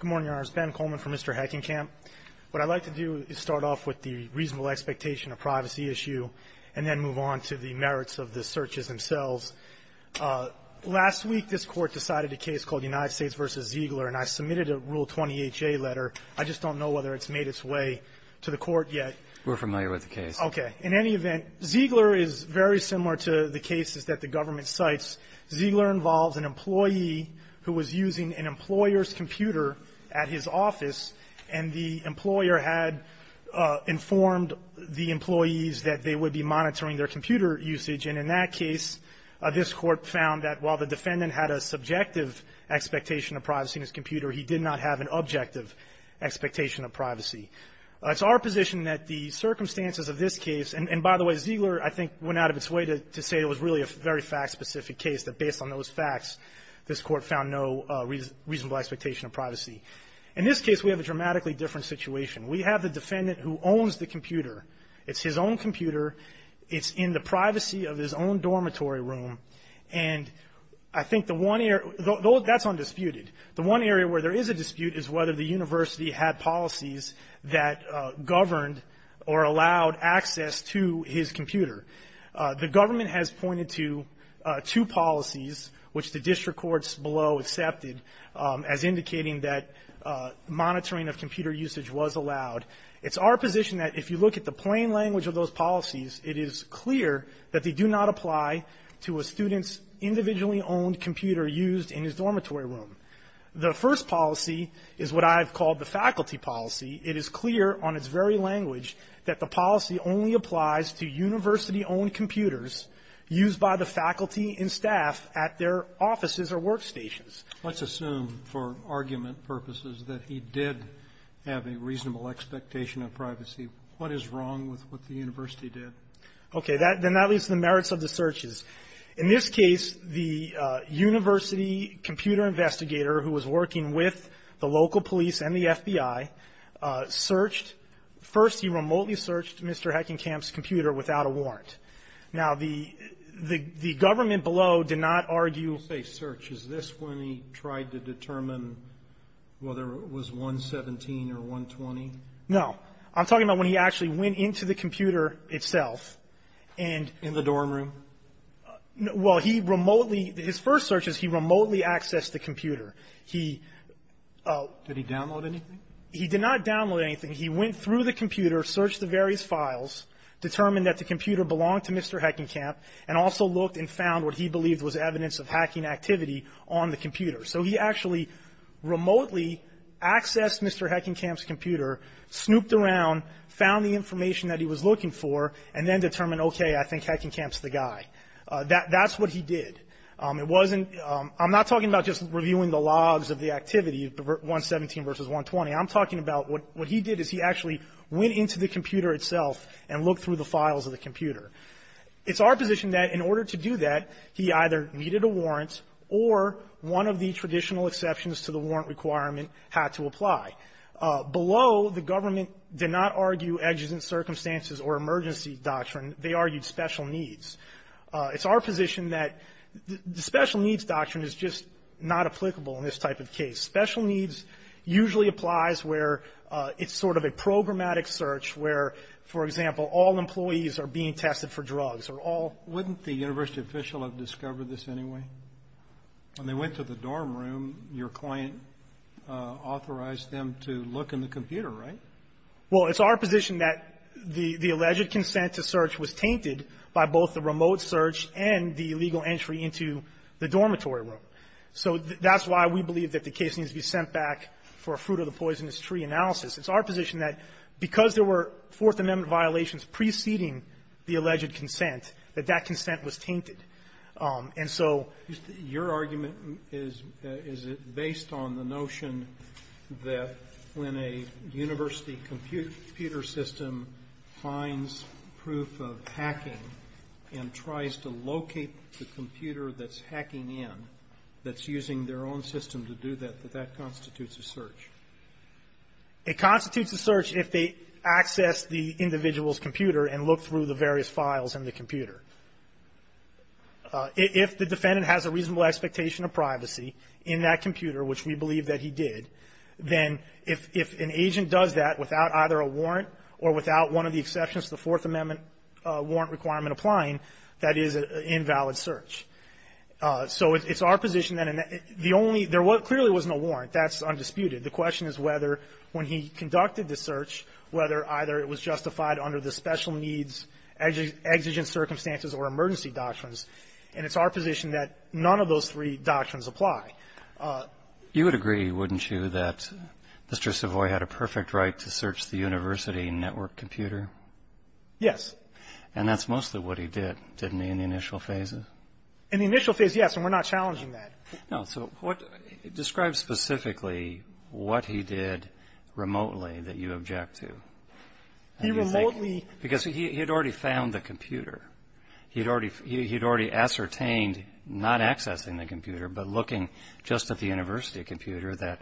Good morning, Your Honors. Ben Coleman for Mr. Heckenkamp. What I'd like to do is start off with the reasonable expectation of privacy issue and then move on to the merits of the searches themselves. Last week, this Court decided a case called United States v. Ziegler and I submitted a Rule 20HA letter. I just don't know whether it's made its way to the Court yet. We're familiar with the case. Okay. In any event, Ziegler is very similar to the cases that the government cites. Ziegler involves an employee who was using an employer's computer at his office, and the employer had informed the employees that they would be monitoring their computer usage. And in that case, this Court found that while the defendant had a subjective expectation of privacy in his computer, he did not have an objective expectation of privacy. It's our position that the circumstances of this case – and by the way, Ziegler, I think, went out of its way to say it was really a very fact-specific case, that based on those facts, this Court found no reasonable expectation of privacy. In this case, we have a dramatically different situation. We have the defendant who owns the computer. It's his own computer. It's in the privacy of his own dormitory room. And I think the one area – that's undisputed. The one area where there is a dispute is whether the university had policies that governed or allowed access to his computer. The government has pointed to two policies, which the district courts below accepted as indicating that monitoring of computer usage was allowed. It's our position that if you look at the plain language of those policies, it is clear that they do not apply to a student's individually owned computer used in his dormitory room. The first policy is what I've called the faculty policy. It is clear on its very language that the policy only applies to university-owned computers used by the faculty and staff at their offices or workstations. Let's assume, for argument purposes, that he did have a reasonable expectation of privacy. What is wrong with what the university did? Okay, then that leaves the merits of the searches. In this case, the university computer investigator who was working with the local police and the FBI searched – first, he remotely searched Mr. Heckenkamp's computer without a warrant. Now, the government below did not argue – You say search. Is this when he tried to determine whether it was 117 or 120? No. I'm talking about when he actually went into the computer itself and – In the dorm room? Well, he remotely – his first search is he remotely accessed the computer. He – Did he download anything? He did not download anything. He went through the computer, searched the various files, determined that the computer belonged to Mr. Heckenkamp, and also looked and found what he believed was evidence of hacking activity on the computer. So he actually remotely accessed Mr. Heckenkamp's computer, snooped around, found the information that he was looking for, and then determined, okay, I think Heckenkamp's the guy. That's what he did. It wasn't – I'm not talking about just reviewing the logs of the activity, 117 versus 120. I'm talking about what he did is he actually went into the computer itself and looked through the files of the computer. It's our position that in order to do that, he either needed a warrant or one of the traditional exceptions to the warrant requirement had to apply. Below, the government did not argue edges and circumstances or emergency doctrine. They argued special needs. It's our position that the special needs doctrine is just not applicable in this type of case. Special needs usually applies where it's sort of a programmatic search where, for example, all employees are being tested for drugs or all – Wouldn't the university official have discovered this anyway? When they went to the dorm room, your client authorized them to look in the computer, right? Well, it's our position that the alleged consent to search was tainted by both the remote search and the illegal entry into the dormitory room. So that's why we believe that the case needs to be sent back for a fruit-of-the-poisonous-tree analysis. It's our position that because there were Fourth Amendment violations preceding the alleged consent, that that consent was tainted. And so your argument is, is it based on the notion that when a university computer system finds proof of hacking and tries to locate the computer that's hacking in, that's using their own system to do that, that that constitutes a search? It constitutes a search if they access the individual's computer and look through the various files in the computer. If the defendant has a reasonable expectation of privacy in that computer, which we believe that he did, then if an agent does that without either a warrant or without one of the exceptions to the Fourth Amendment warrant requirement applying, that is an invalid search. So it's our position that the only – there clearly was no warrant. That's undisputed. The question is whether, when he conducted the search, whether either it was justified under the special needs, exigent circumstances, or emergency doctrines. And it's our position that none of those three doctrines apply. You would agree, wouldn't you, that Mr. Savoy had a perfect right to search the university network computer? Yes. And that's mostly what he did, didn't he, in the initial phases? In the initial phases, yes, and we're not challenging that. No, so what – describe specifically what he did remotely that you object to. He remotely – Because he had already found the computer. He had already ascertained, not accessing the computer, but looking just at the university computer, that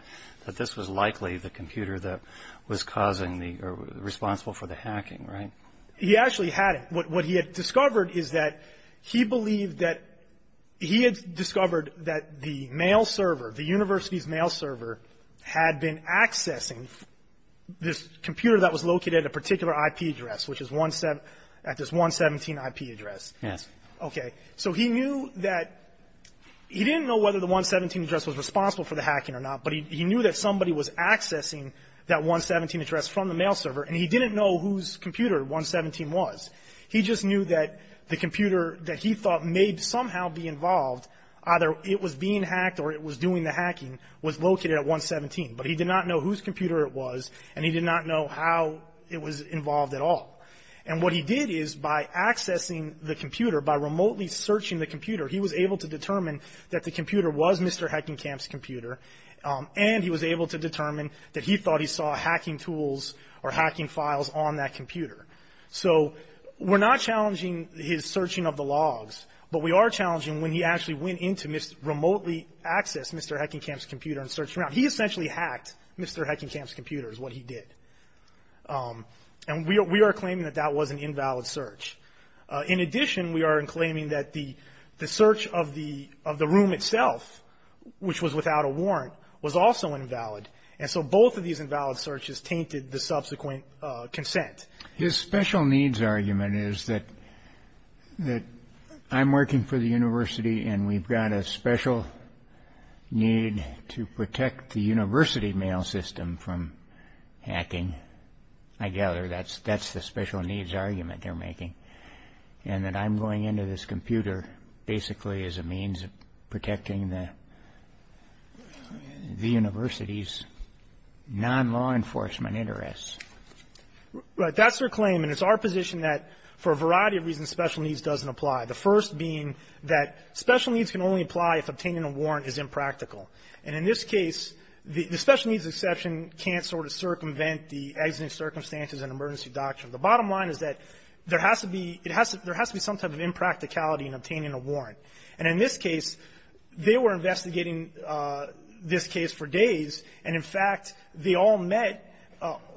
this was likely the computer that was causing the – or responsible for the hacking, right? He actually had it. What he had discovered is that he believed that – he had discovered that the mail server, the university's mail server, had been accessing this computer that was located at a particular IP address, which is at this 117 IP address. Yes. Okay. So he knew that – he didn't know whether the 117 address was responsible for the hacking or not, but he knew that somebody was accessing that 117 address from the mail server, and he didn't know whose computer 117 was. He just knew that the computer that he thought may somehow be involved, either it was being hacked or it was doing the hacking, was located at 117. But he did not know whose computer it was, and he did not know how it was involved at all. And what he did is, by accessing the computer, by remotely searching the computer, he was able to determine that the computer was his computer, and he was able to determine that he thought he saw hacking tools or hacking files on that computer. So we're not challenging his searching of the logs, but we are challenging when he actually went in to remotely access Mr. Heckenkamp's computer and searched around. He essentially hacked Mr. Heckenkamp's computer is what he did. And we are claiming that that was an invalid search. In addition, we are claiming that the search of the room itself, which was without a warrant, was also invalid. And so both of these invalid searches tainted the subsequent consent. His special needs argument is that I'm working for the university and we've got a special need to protect the university mail system from hacking. I gather that's the special needs argument they're making, and that I'm going into this computer basically as a means of protecting the university's non-law enforcement interests. Right. That's their claim. And it's our position that for a variety of reasons special needs doesn't apply, the first being that special needs can only apply if obtaining a warrant is impractical. And in this case, the special needs exception can't sort of circumvent the exiting circumstances and emergency doctrine. The bottom line is that there has to be some type of impracticality in obtaining a warrant. And in this case, they were investigating this case for days, and in fact, they all met.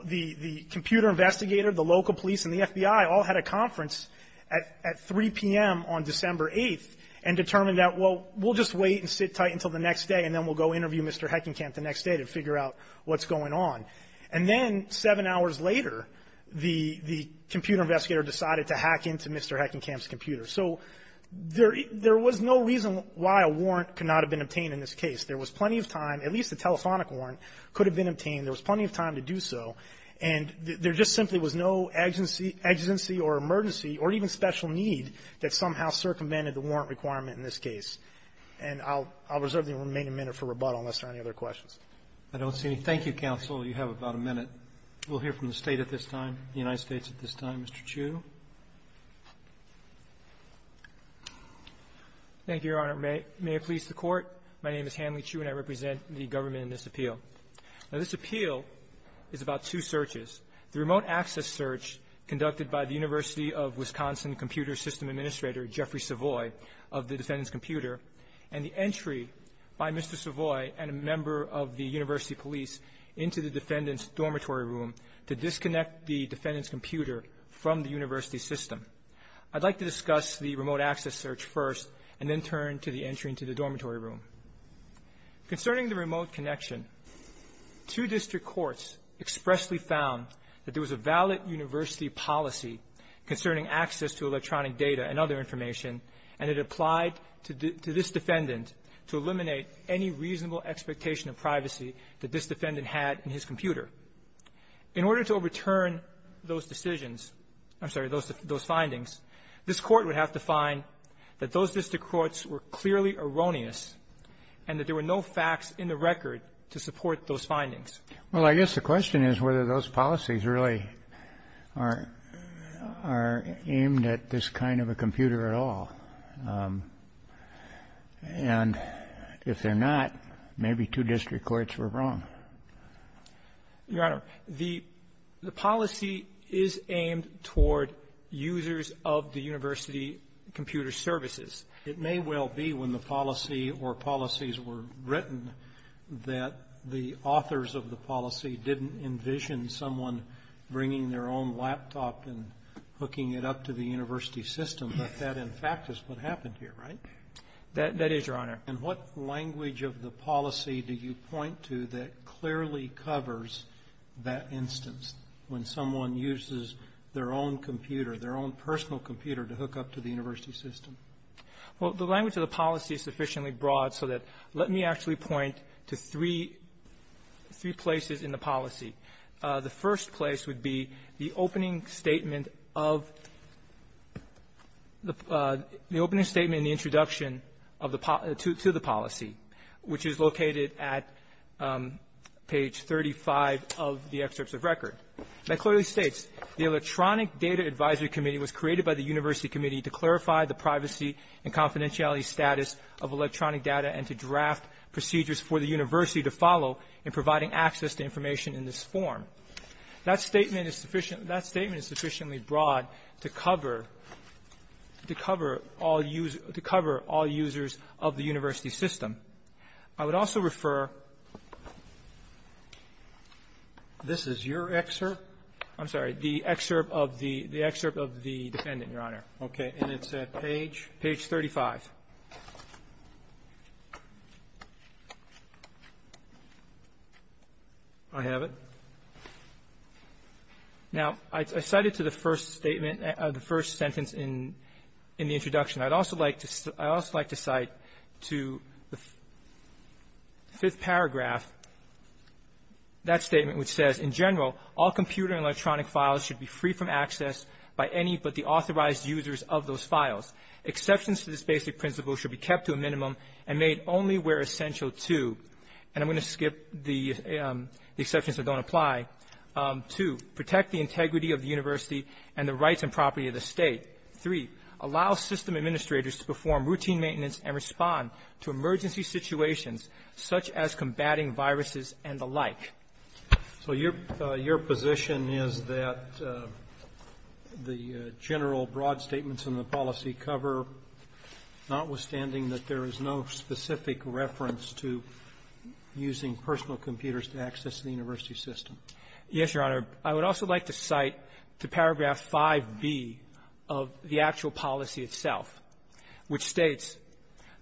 The computer investigator, the local police, and the FBI all had a conference at 3 p.m. on December 8th and determined that, well, we'll just wait and sit tight until the next day, and then we'll go interview Mr. Heckenkamp the next day to figure out what's going on. And then seven hours later, the computer investigator decided to hack into Mr. Heckenkamp's computer. So there was no reason why a warrant could not have been obtained in this case. There was plenty of time. At least a telephonic warrant could have been obtained. There was plenty of time to do so. And there just simply was no exigency or emergency or even special need that somehow circumvented the warrant requirement in this case. And I'll reserve the remaining minute for rebuttal unless there are any other questions. Roberts. Roberts. I don't see any. Thank you, counsel. You have about a minute. We'll hear from the State at this time, the United States at this time. Mr. Chu. Thank you, Your Honor. May it please the Court. My name is Hanley Chu, and I represent the government in this appeal. Now, this appeal is about two searches. The remote access search conducted by the University of Wisconsin Computer System Administrator, Jeffrey Savoy, of the defendant's computer, and the entry by Mr. Savoy of the university police into the defendant's dormitory room to disconnect the defendant's computer from the university system. I'd like to discuss the remote access search first and then turn to the entry into the dormitory room. Concerning the remote connection, two district courts expressly found that there was a valid university policy concerning access to electronic data and other information, and it applied to this defendant to eliminate any reasonable expectation of privacy that this defendant had in his computer. In order to overturn those decisions — I'm sorry, those findings, this Court would have to find that those district courts were clearly erroneous and that there were no facts in the record to support those findings. Well, I guess the question is whether those policies really are aimed at this kind of a computer at all. And if they're not, maybe two district courts were wrong. Your Honor, the policy is aimed toward users of the university computer services. It may well be when the policy or policies were written that the authors of the policy didn't envision someone bringing their own laptop and hooking it up to the university system, but that, in fact, is what happened here, right? That is, Your Honor. And what language of the policy do you point to that clearly covers that instance, when someone uses their own computer, their own personal computer, to hook up to the university system? Well, the language of the policy is sufficiently broad so that let me actually point to three — three places in the policy. The first place would be the opening statement of the — the opening statement in the introduction of the — to the policy, which is located at page 35 of the excerpts of record. That clearly states, The Electronic Data Advisory Committee was created by the University Committee to clarify the privacy and confidentiality status of electronic data and to draft procedures for the university to follow in providing access to information in this form. That statement is sufficient — that statement is sufficiently broad to cover — to cover all users — to cover all users of the university system. I would also refer — this is your excerpt? I'm sorry. The excerpt of the defendant, Your Honor. Okay. And it's at page? Page 35. I have it. Now, I cited to the first statement — the first sentence in — in the introduction. I'd also like to — I'd also like to cite to the fifth paragraph that statement, which says, In general, all computer and electronic files should be free from access by any but the authorized users of those files. Exceptions to this basic principle should be kept to a minimum and made only where essential to — and I'm going to skip the exceptions that don't apply. Two, protect the integrity of the university and the rights and property of the state. Three, allow system administrators to perform routine maintenance and respond to emergency situations such as combating viruses and the like. So your — your position is that the general broad statements in the policy cover, notwithstanding that there is no specific reference to using personal computers to access the university system? Yes, Your Honor. I would also like to cite to paragraph 5b of the actual policy itself, which states,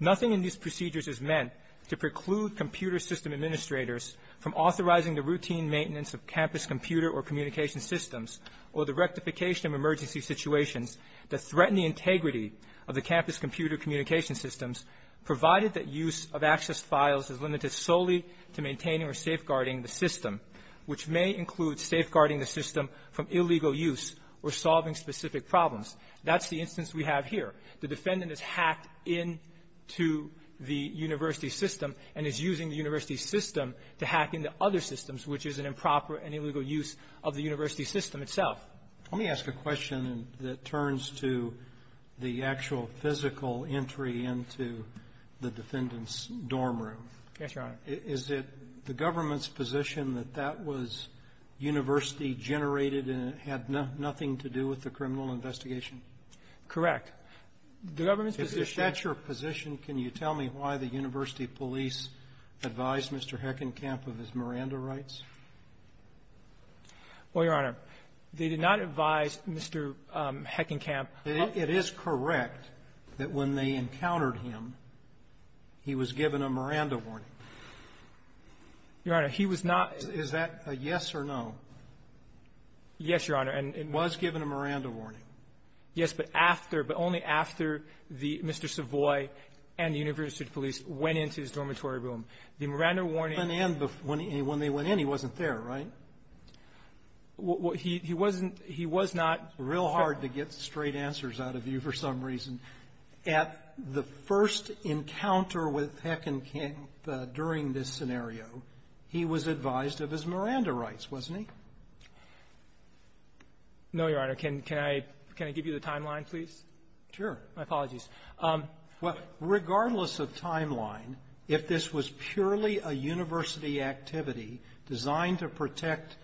Nothing in these procedures is meant to preclude computer system administrators from authorizing the routine maintenance of campus computer or communication systems or the rectification of emergency situations that threaten the integrity of the campus computer communication systems, provided that use of access files is limited solely to maintaining or safeguarding the system, which may include safeguarding the system from illegal use or solving specific problems. That's the instance we have here. The defendant is hacked into the university system and is using the university system to hack into other systems, which is an improper and illegal use of the university system itself. Let me ask a question that turns to the actual physical entry into the defendant's dorm room. Yes, Your Honor. Is it the government's position that that was university-generated and it had nothing to do with the criminal investigation? Correct. The government's position — If that's your position, can you tell me why the university police advised Mr. Heckenkamp of his Miranda rights? Well, Your Honor, they did not advise Mr. Heckenkamp — It is correct that when they encountered him, he was given a Miranda warning. Your Honor, he was not — Is that a yes or no? Yes, Your Honor, and — He was given a Miranda warning. Yes, but after — but only after the — Mr. Savoy and the university police went into his dormitory room. The Miranda warning — When they went in, he wasn't there, right? He wasn't — he was not — Real hard to get straight answers out of you for some reason. At the first encounter with Heckenkamp during this scenario, he was advised of his Miranda rights, wasn't he? No, Your Honor. Can I — can I give you the timeline, please? Sure. My apologies. Well, regardless of timeline, if this was purely a university activity designed to protect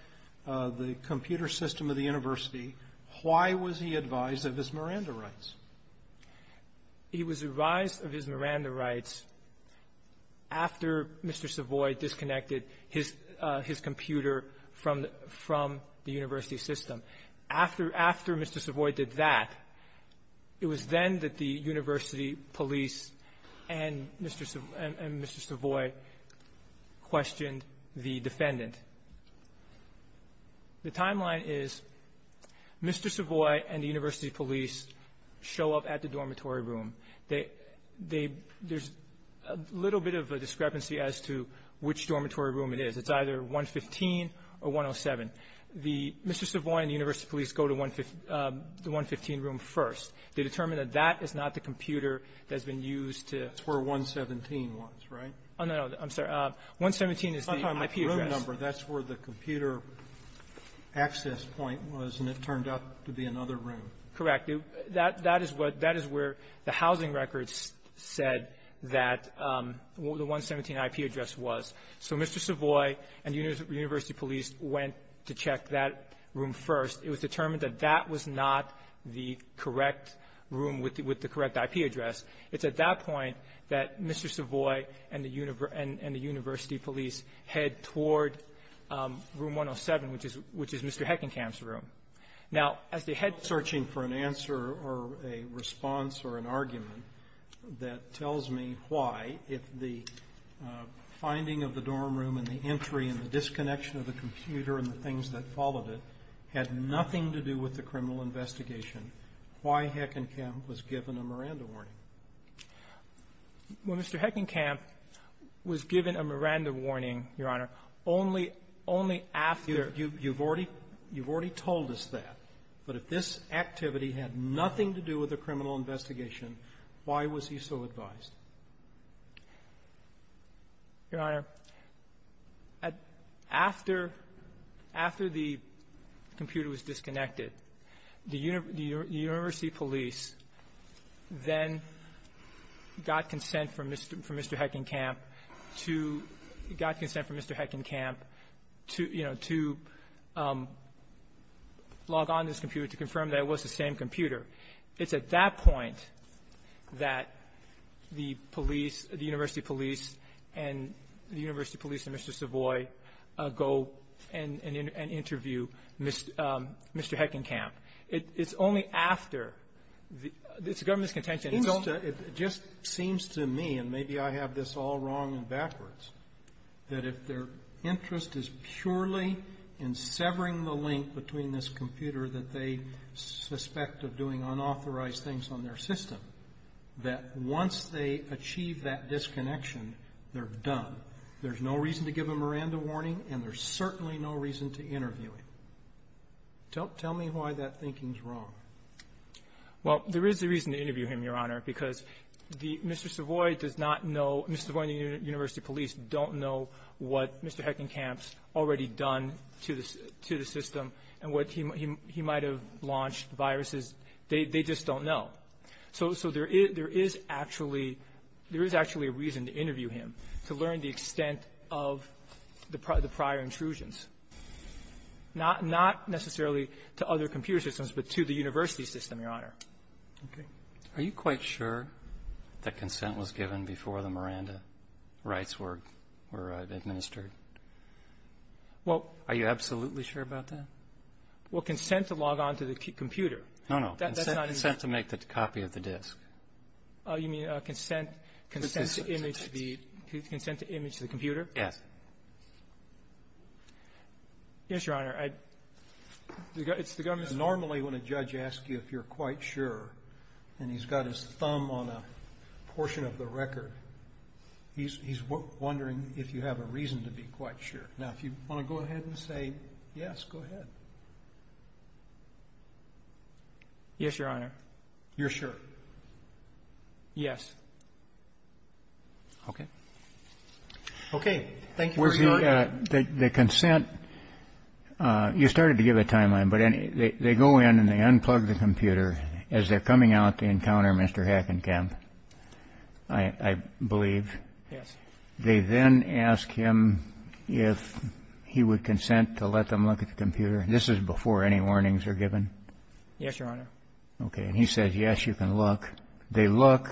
the computer system of the university, why was he advised of his Miranda rights? He was advised of his Miranda rights after Mr. Savoy disconnected his — his computer from — from the university system. After — after Mr. Savoy did that, it was then that the university police and Mr. — and Mr. Savoy questioned the defendant. The timeline is Mr. Savoy and the university police show up at the dormitory room. They — they — there's a little bit of a discrepancy as to which dormitory room it is. It's either 115 or 107. The — Mr. Savoy and the university police go to 115 — the 115 room first. They determine that that is not the computer that's been used to — That's where 117 was, right? Oh, no, no. I'm sorry. 117 is the IP address. The room number, that's where the computer access point was, and it turned out to be another room. Correct. That — that is what — that is where the housing records said that the 117 IP address was. So Mr. Savoy and university police went to check that room first. It was determined that that was not the correct room with the — with the correct IP address. It's at that point that Mr. Savoy and the university police head toward room 107, which is — which is Mr. Heckenkamp's room. Now, as the head — I'm not searching for an answer or a response or an argument that tells me why, if the finding of the dorm room and the entry and the disconnection of the computer and the criminal investigation, why Heckenkamp was given a Miranda warning? Well, Mr. Heckenkamp was given a Miranda warning, Your Honor, only — only after — You've already — you've already told us that. But if this activity had nothing to do with the criminal investigation, why was he so advised? Your Honor, after — after the computer was disconnected, the university police then got consent from Mr. — from Mr. Heckenkamp to — got consent from Mr. Heckenkamp to, you know, to log on to this computer to confirm that it was the same computer. It's at that point that the police — the university police and — the university police and Mr. Savoy go and interview Mr. Heckenkamp. It's only after the — it's a government's contention. It seems to — it just seems to me, and maybe I have this all wrong and backwards, that if their interest is purely in severing the link between this computer that they suspect of doing unauthorized things on their system, that once they achieve that disconnection, they're done. There's no reason to give a Miranda warning, and there's certainly no reason to interview him. Tell — tell me why that thinking's wrong. Well, there is a reason to interview him, Your Honor, because the — Mr. Savoy does not know — Mr. Savoy and the university police don't know what Mr. Heckenkamp's already done to the — to the system and what he — he might have launched viruses. They — they just don't know. So — so there is — there is actually — there is actually a reason to interview him, to learn the extent of the prior intrusions, not — not necessarily to other computer systems, but to the university system, Your Honor. Okay. Are you quite sure that consent was given before the Miranda rights were — were administered? Well — Are you absolutely sure about that? Well, consent to log on to the computer. No, no. That's not even — Consent to make the copy of the disk. Oh, you mean consent — consent to image the — consent to image the computer? Yes. Yes, Your Honor. I — it's the government's — Normally, when a judge asks you if you're quite sure and he's got his thumb on a portion of the record, he's — he's wondering if you have a reason to be quite sure. Now, if you want to go ahead and say yes, go ahead. Yes, Your Honor. You're sure? Okay. Okay. Thank you, Your Honor. Where's the — the — the consent — you started to give a timeline, but any — they go in and they unplug the computer as they're coming out to encounter Mr. Hackenkamp, I — I believe. Yes. They then ask him if he would consent to let them look at the computer. This is before any warnings are given? Yes, Your Honor. Okay. And he says, yes, you can look. They look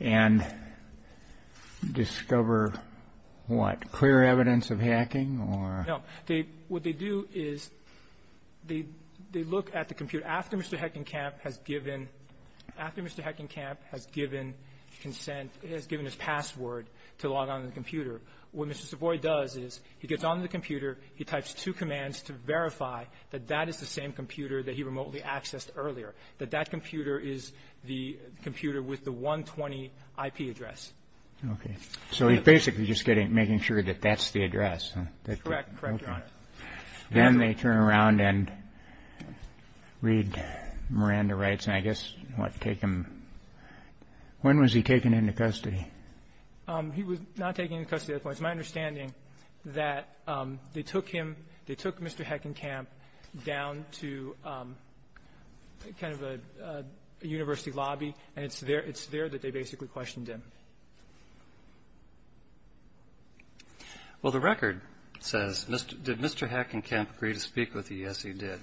and discover what? Clear evidence of hacking or — No. They — what they do is they — they look at the computer. After Mr. Hackenkamp has given — after Mr. Hackenkamp has given consent, has given his password to log on to the computer, what Mr. Savoy does is he gets on the computer, he types two commands to verify that that is the same computer that he remotely accessed earlier, that that computer is the computer with the 120 IP address. Okay. So he's basically just getting — making sure that that's the address. Correct. Correct, Your Honor. Then they turn around and read — Miranda writes, and I guess, what, take him — when was he taken into custody? He was not taken into custody at that point. It's my understanding that they took him — they took Mr. Hackenkamp down to kind of a university lobby, and it's there — it's there that they basically questioned him. Well, the record says, did Mr. Hackenkamp agree to speak with you? Yes, he did.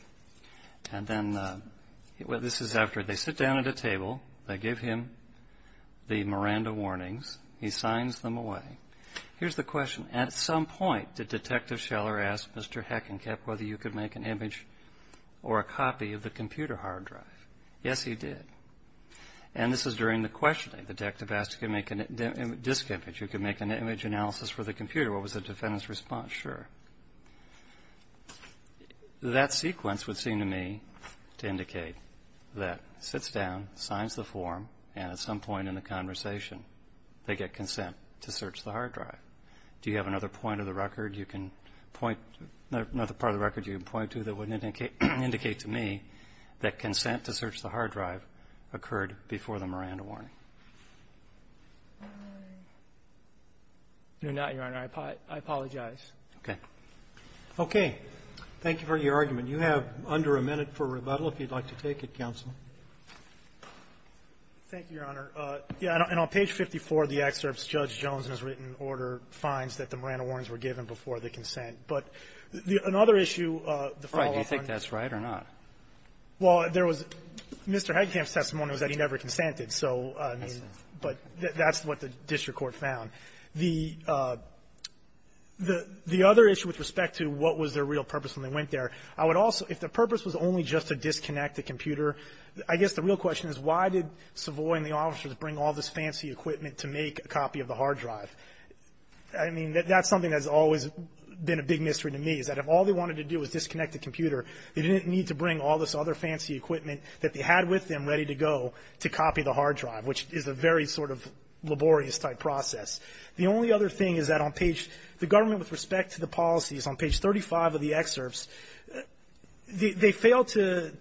And then — well, this is after. They sit down at a table. They give him the Miranda warnings. He signs them away. Here's the question. At some point, did Detective Scheller ask Mr. Hackenkamp whether you could make an image or a copy of the computer hard drive? Yes, he did. And this is during the questioning. Detective asked if you could make a disk image. You could make an image analysis for the computer. What was the defendant's response? Sure. That sequence would seem to me to indicate that sits down, signs the form, and at some point in the conversation, they get consent to search the hard drive. Do you have another point of the record you can point — another part of the record you can point to that would indicate to me that consent to search the hard drive occurred before the Miranda warning? No, not, Your Honor. I apologize. Okay. Okay. Thank you for your argument. You have under a minute for rebuttal, if you'd like to take it, counsel. Thank you, Your Honor. And on page 54 of the excerpts, Judge Jones has written in order of fines that the Miranda warnings were given before the consent. But another issue, the following — Do you think that's right or not? Well, there was — Mr. Heitkamp's testimony was that he never consented. So, I mean, but that's what the district court found. The other issue with respect to what was their real purpose when they went there, I would also — if the purpose was only just to disconnect the computer, I guess the real question is why did Savoy and the officers bring all this fancy equipment to make a copy of the hard drive? I mean, that's something that's always been a big mystery to me, is that if all they wanted to do was disconnect the computer, they didn't need to bring all this other fancy equipment that they had with them ready to go to copy the hard drive, which is a very sort of laborious-type process. The only other thing is that on page — the government, with respect to the policies on page 35 of the excerpts, they failed to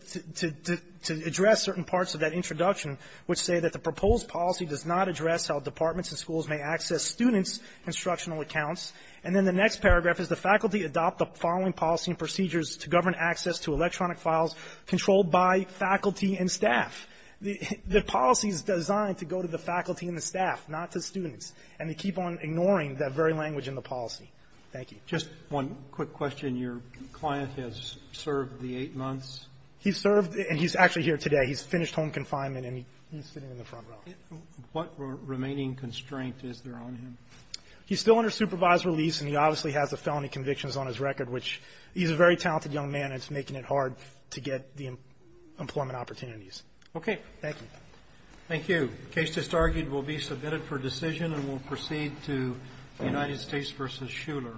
address certain parts of that introduction which say that the proposed policy does not address how departments and schools may access students' instructional accounts. And then the next paragraph is the faculty adopt the following policy and procedures to govern access to electronic files controlled by faculty and staff. The policy is designed to go to the faculty and the staff, not to students, and they keep on ignoring that very language in the policy. Thank you. Roberts. Just one quick question. Your client has served the eight months? He's served — and he's actually here today. He's finished home confinement, and he's sitting in the front row. What remaining constraint is there on him? He's still under supervised release, and he obviously has the felony convictions on his record, which — he's a very talented young man, and it's making it hard to get the employment opportunities. Okay. Thank you. Thank you. The case just argued will be submitted for decision and will proceed to the United States v. Shuler.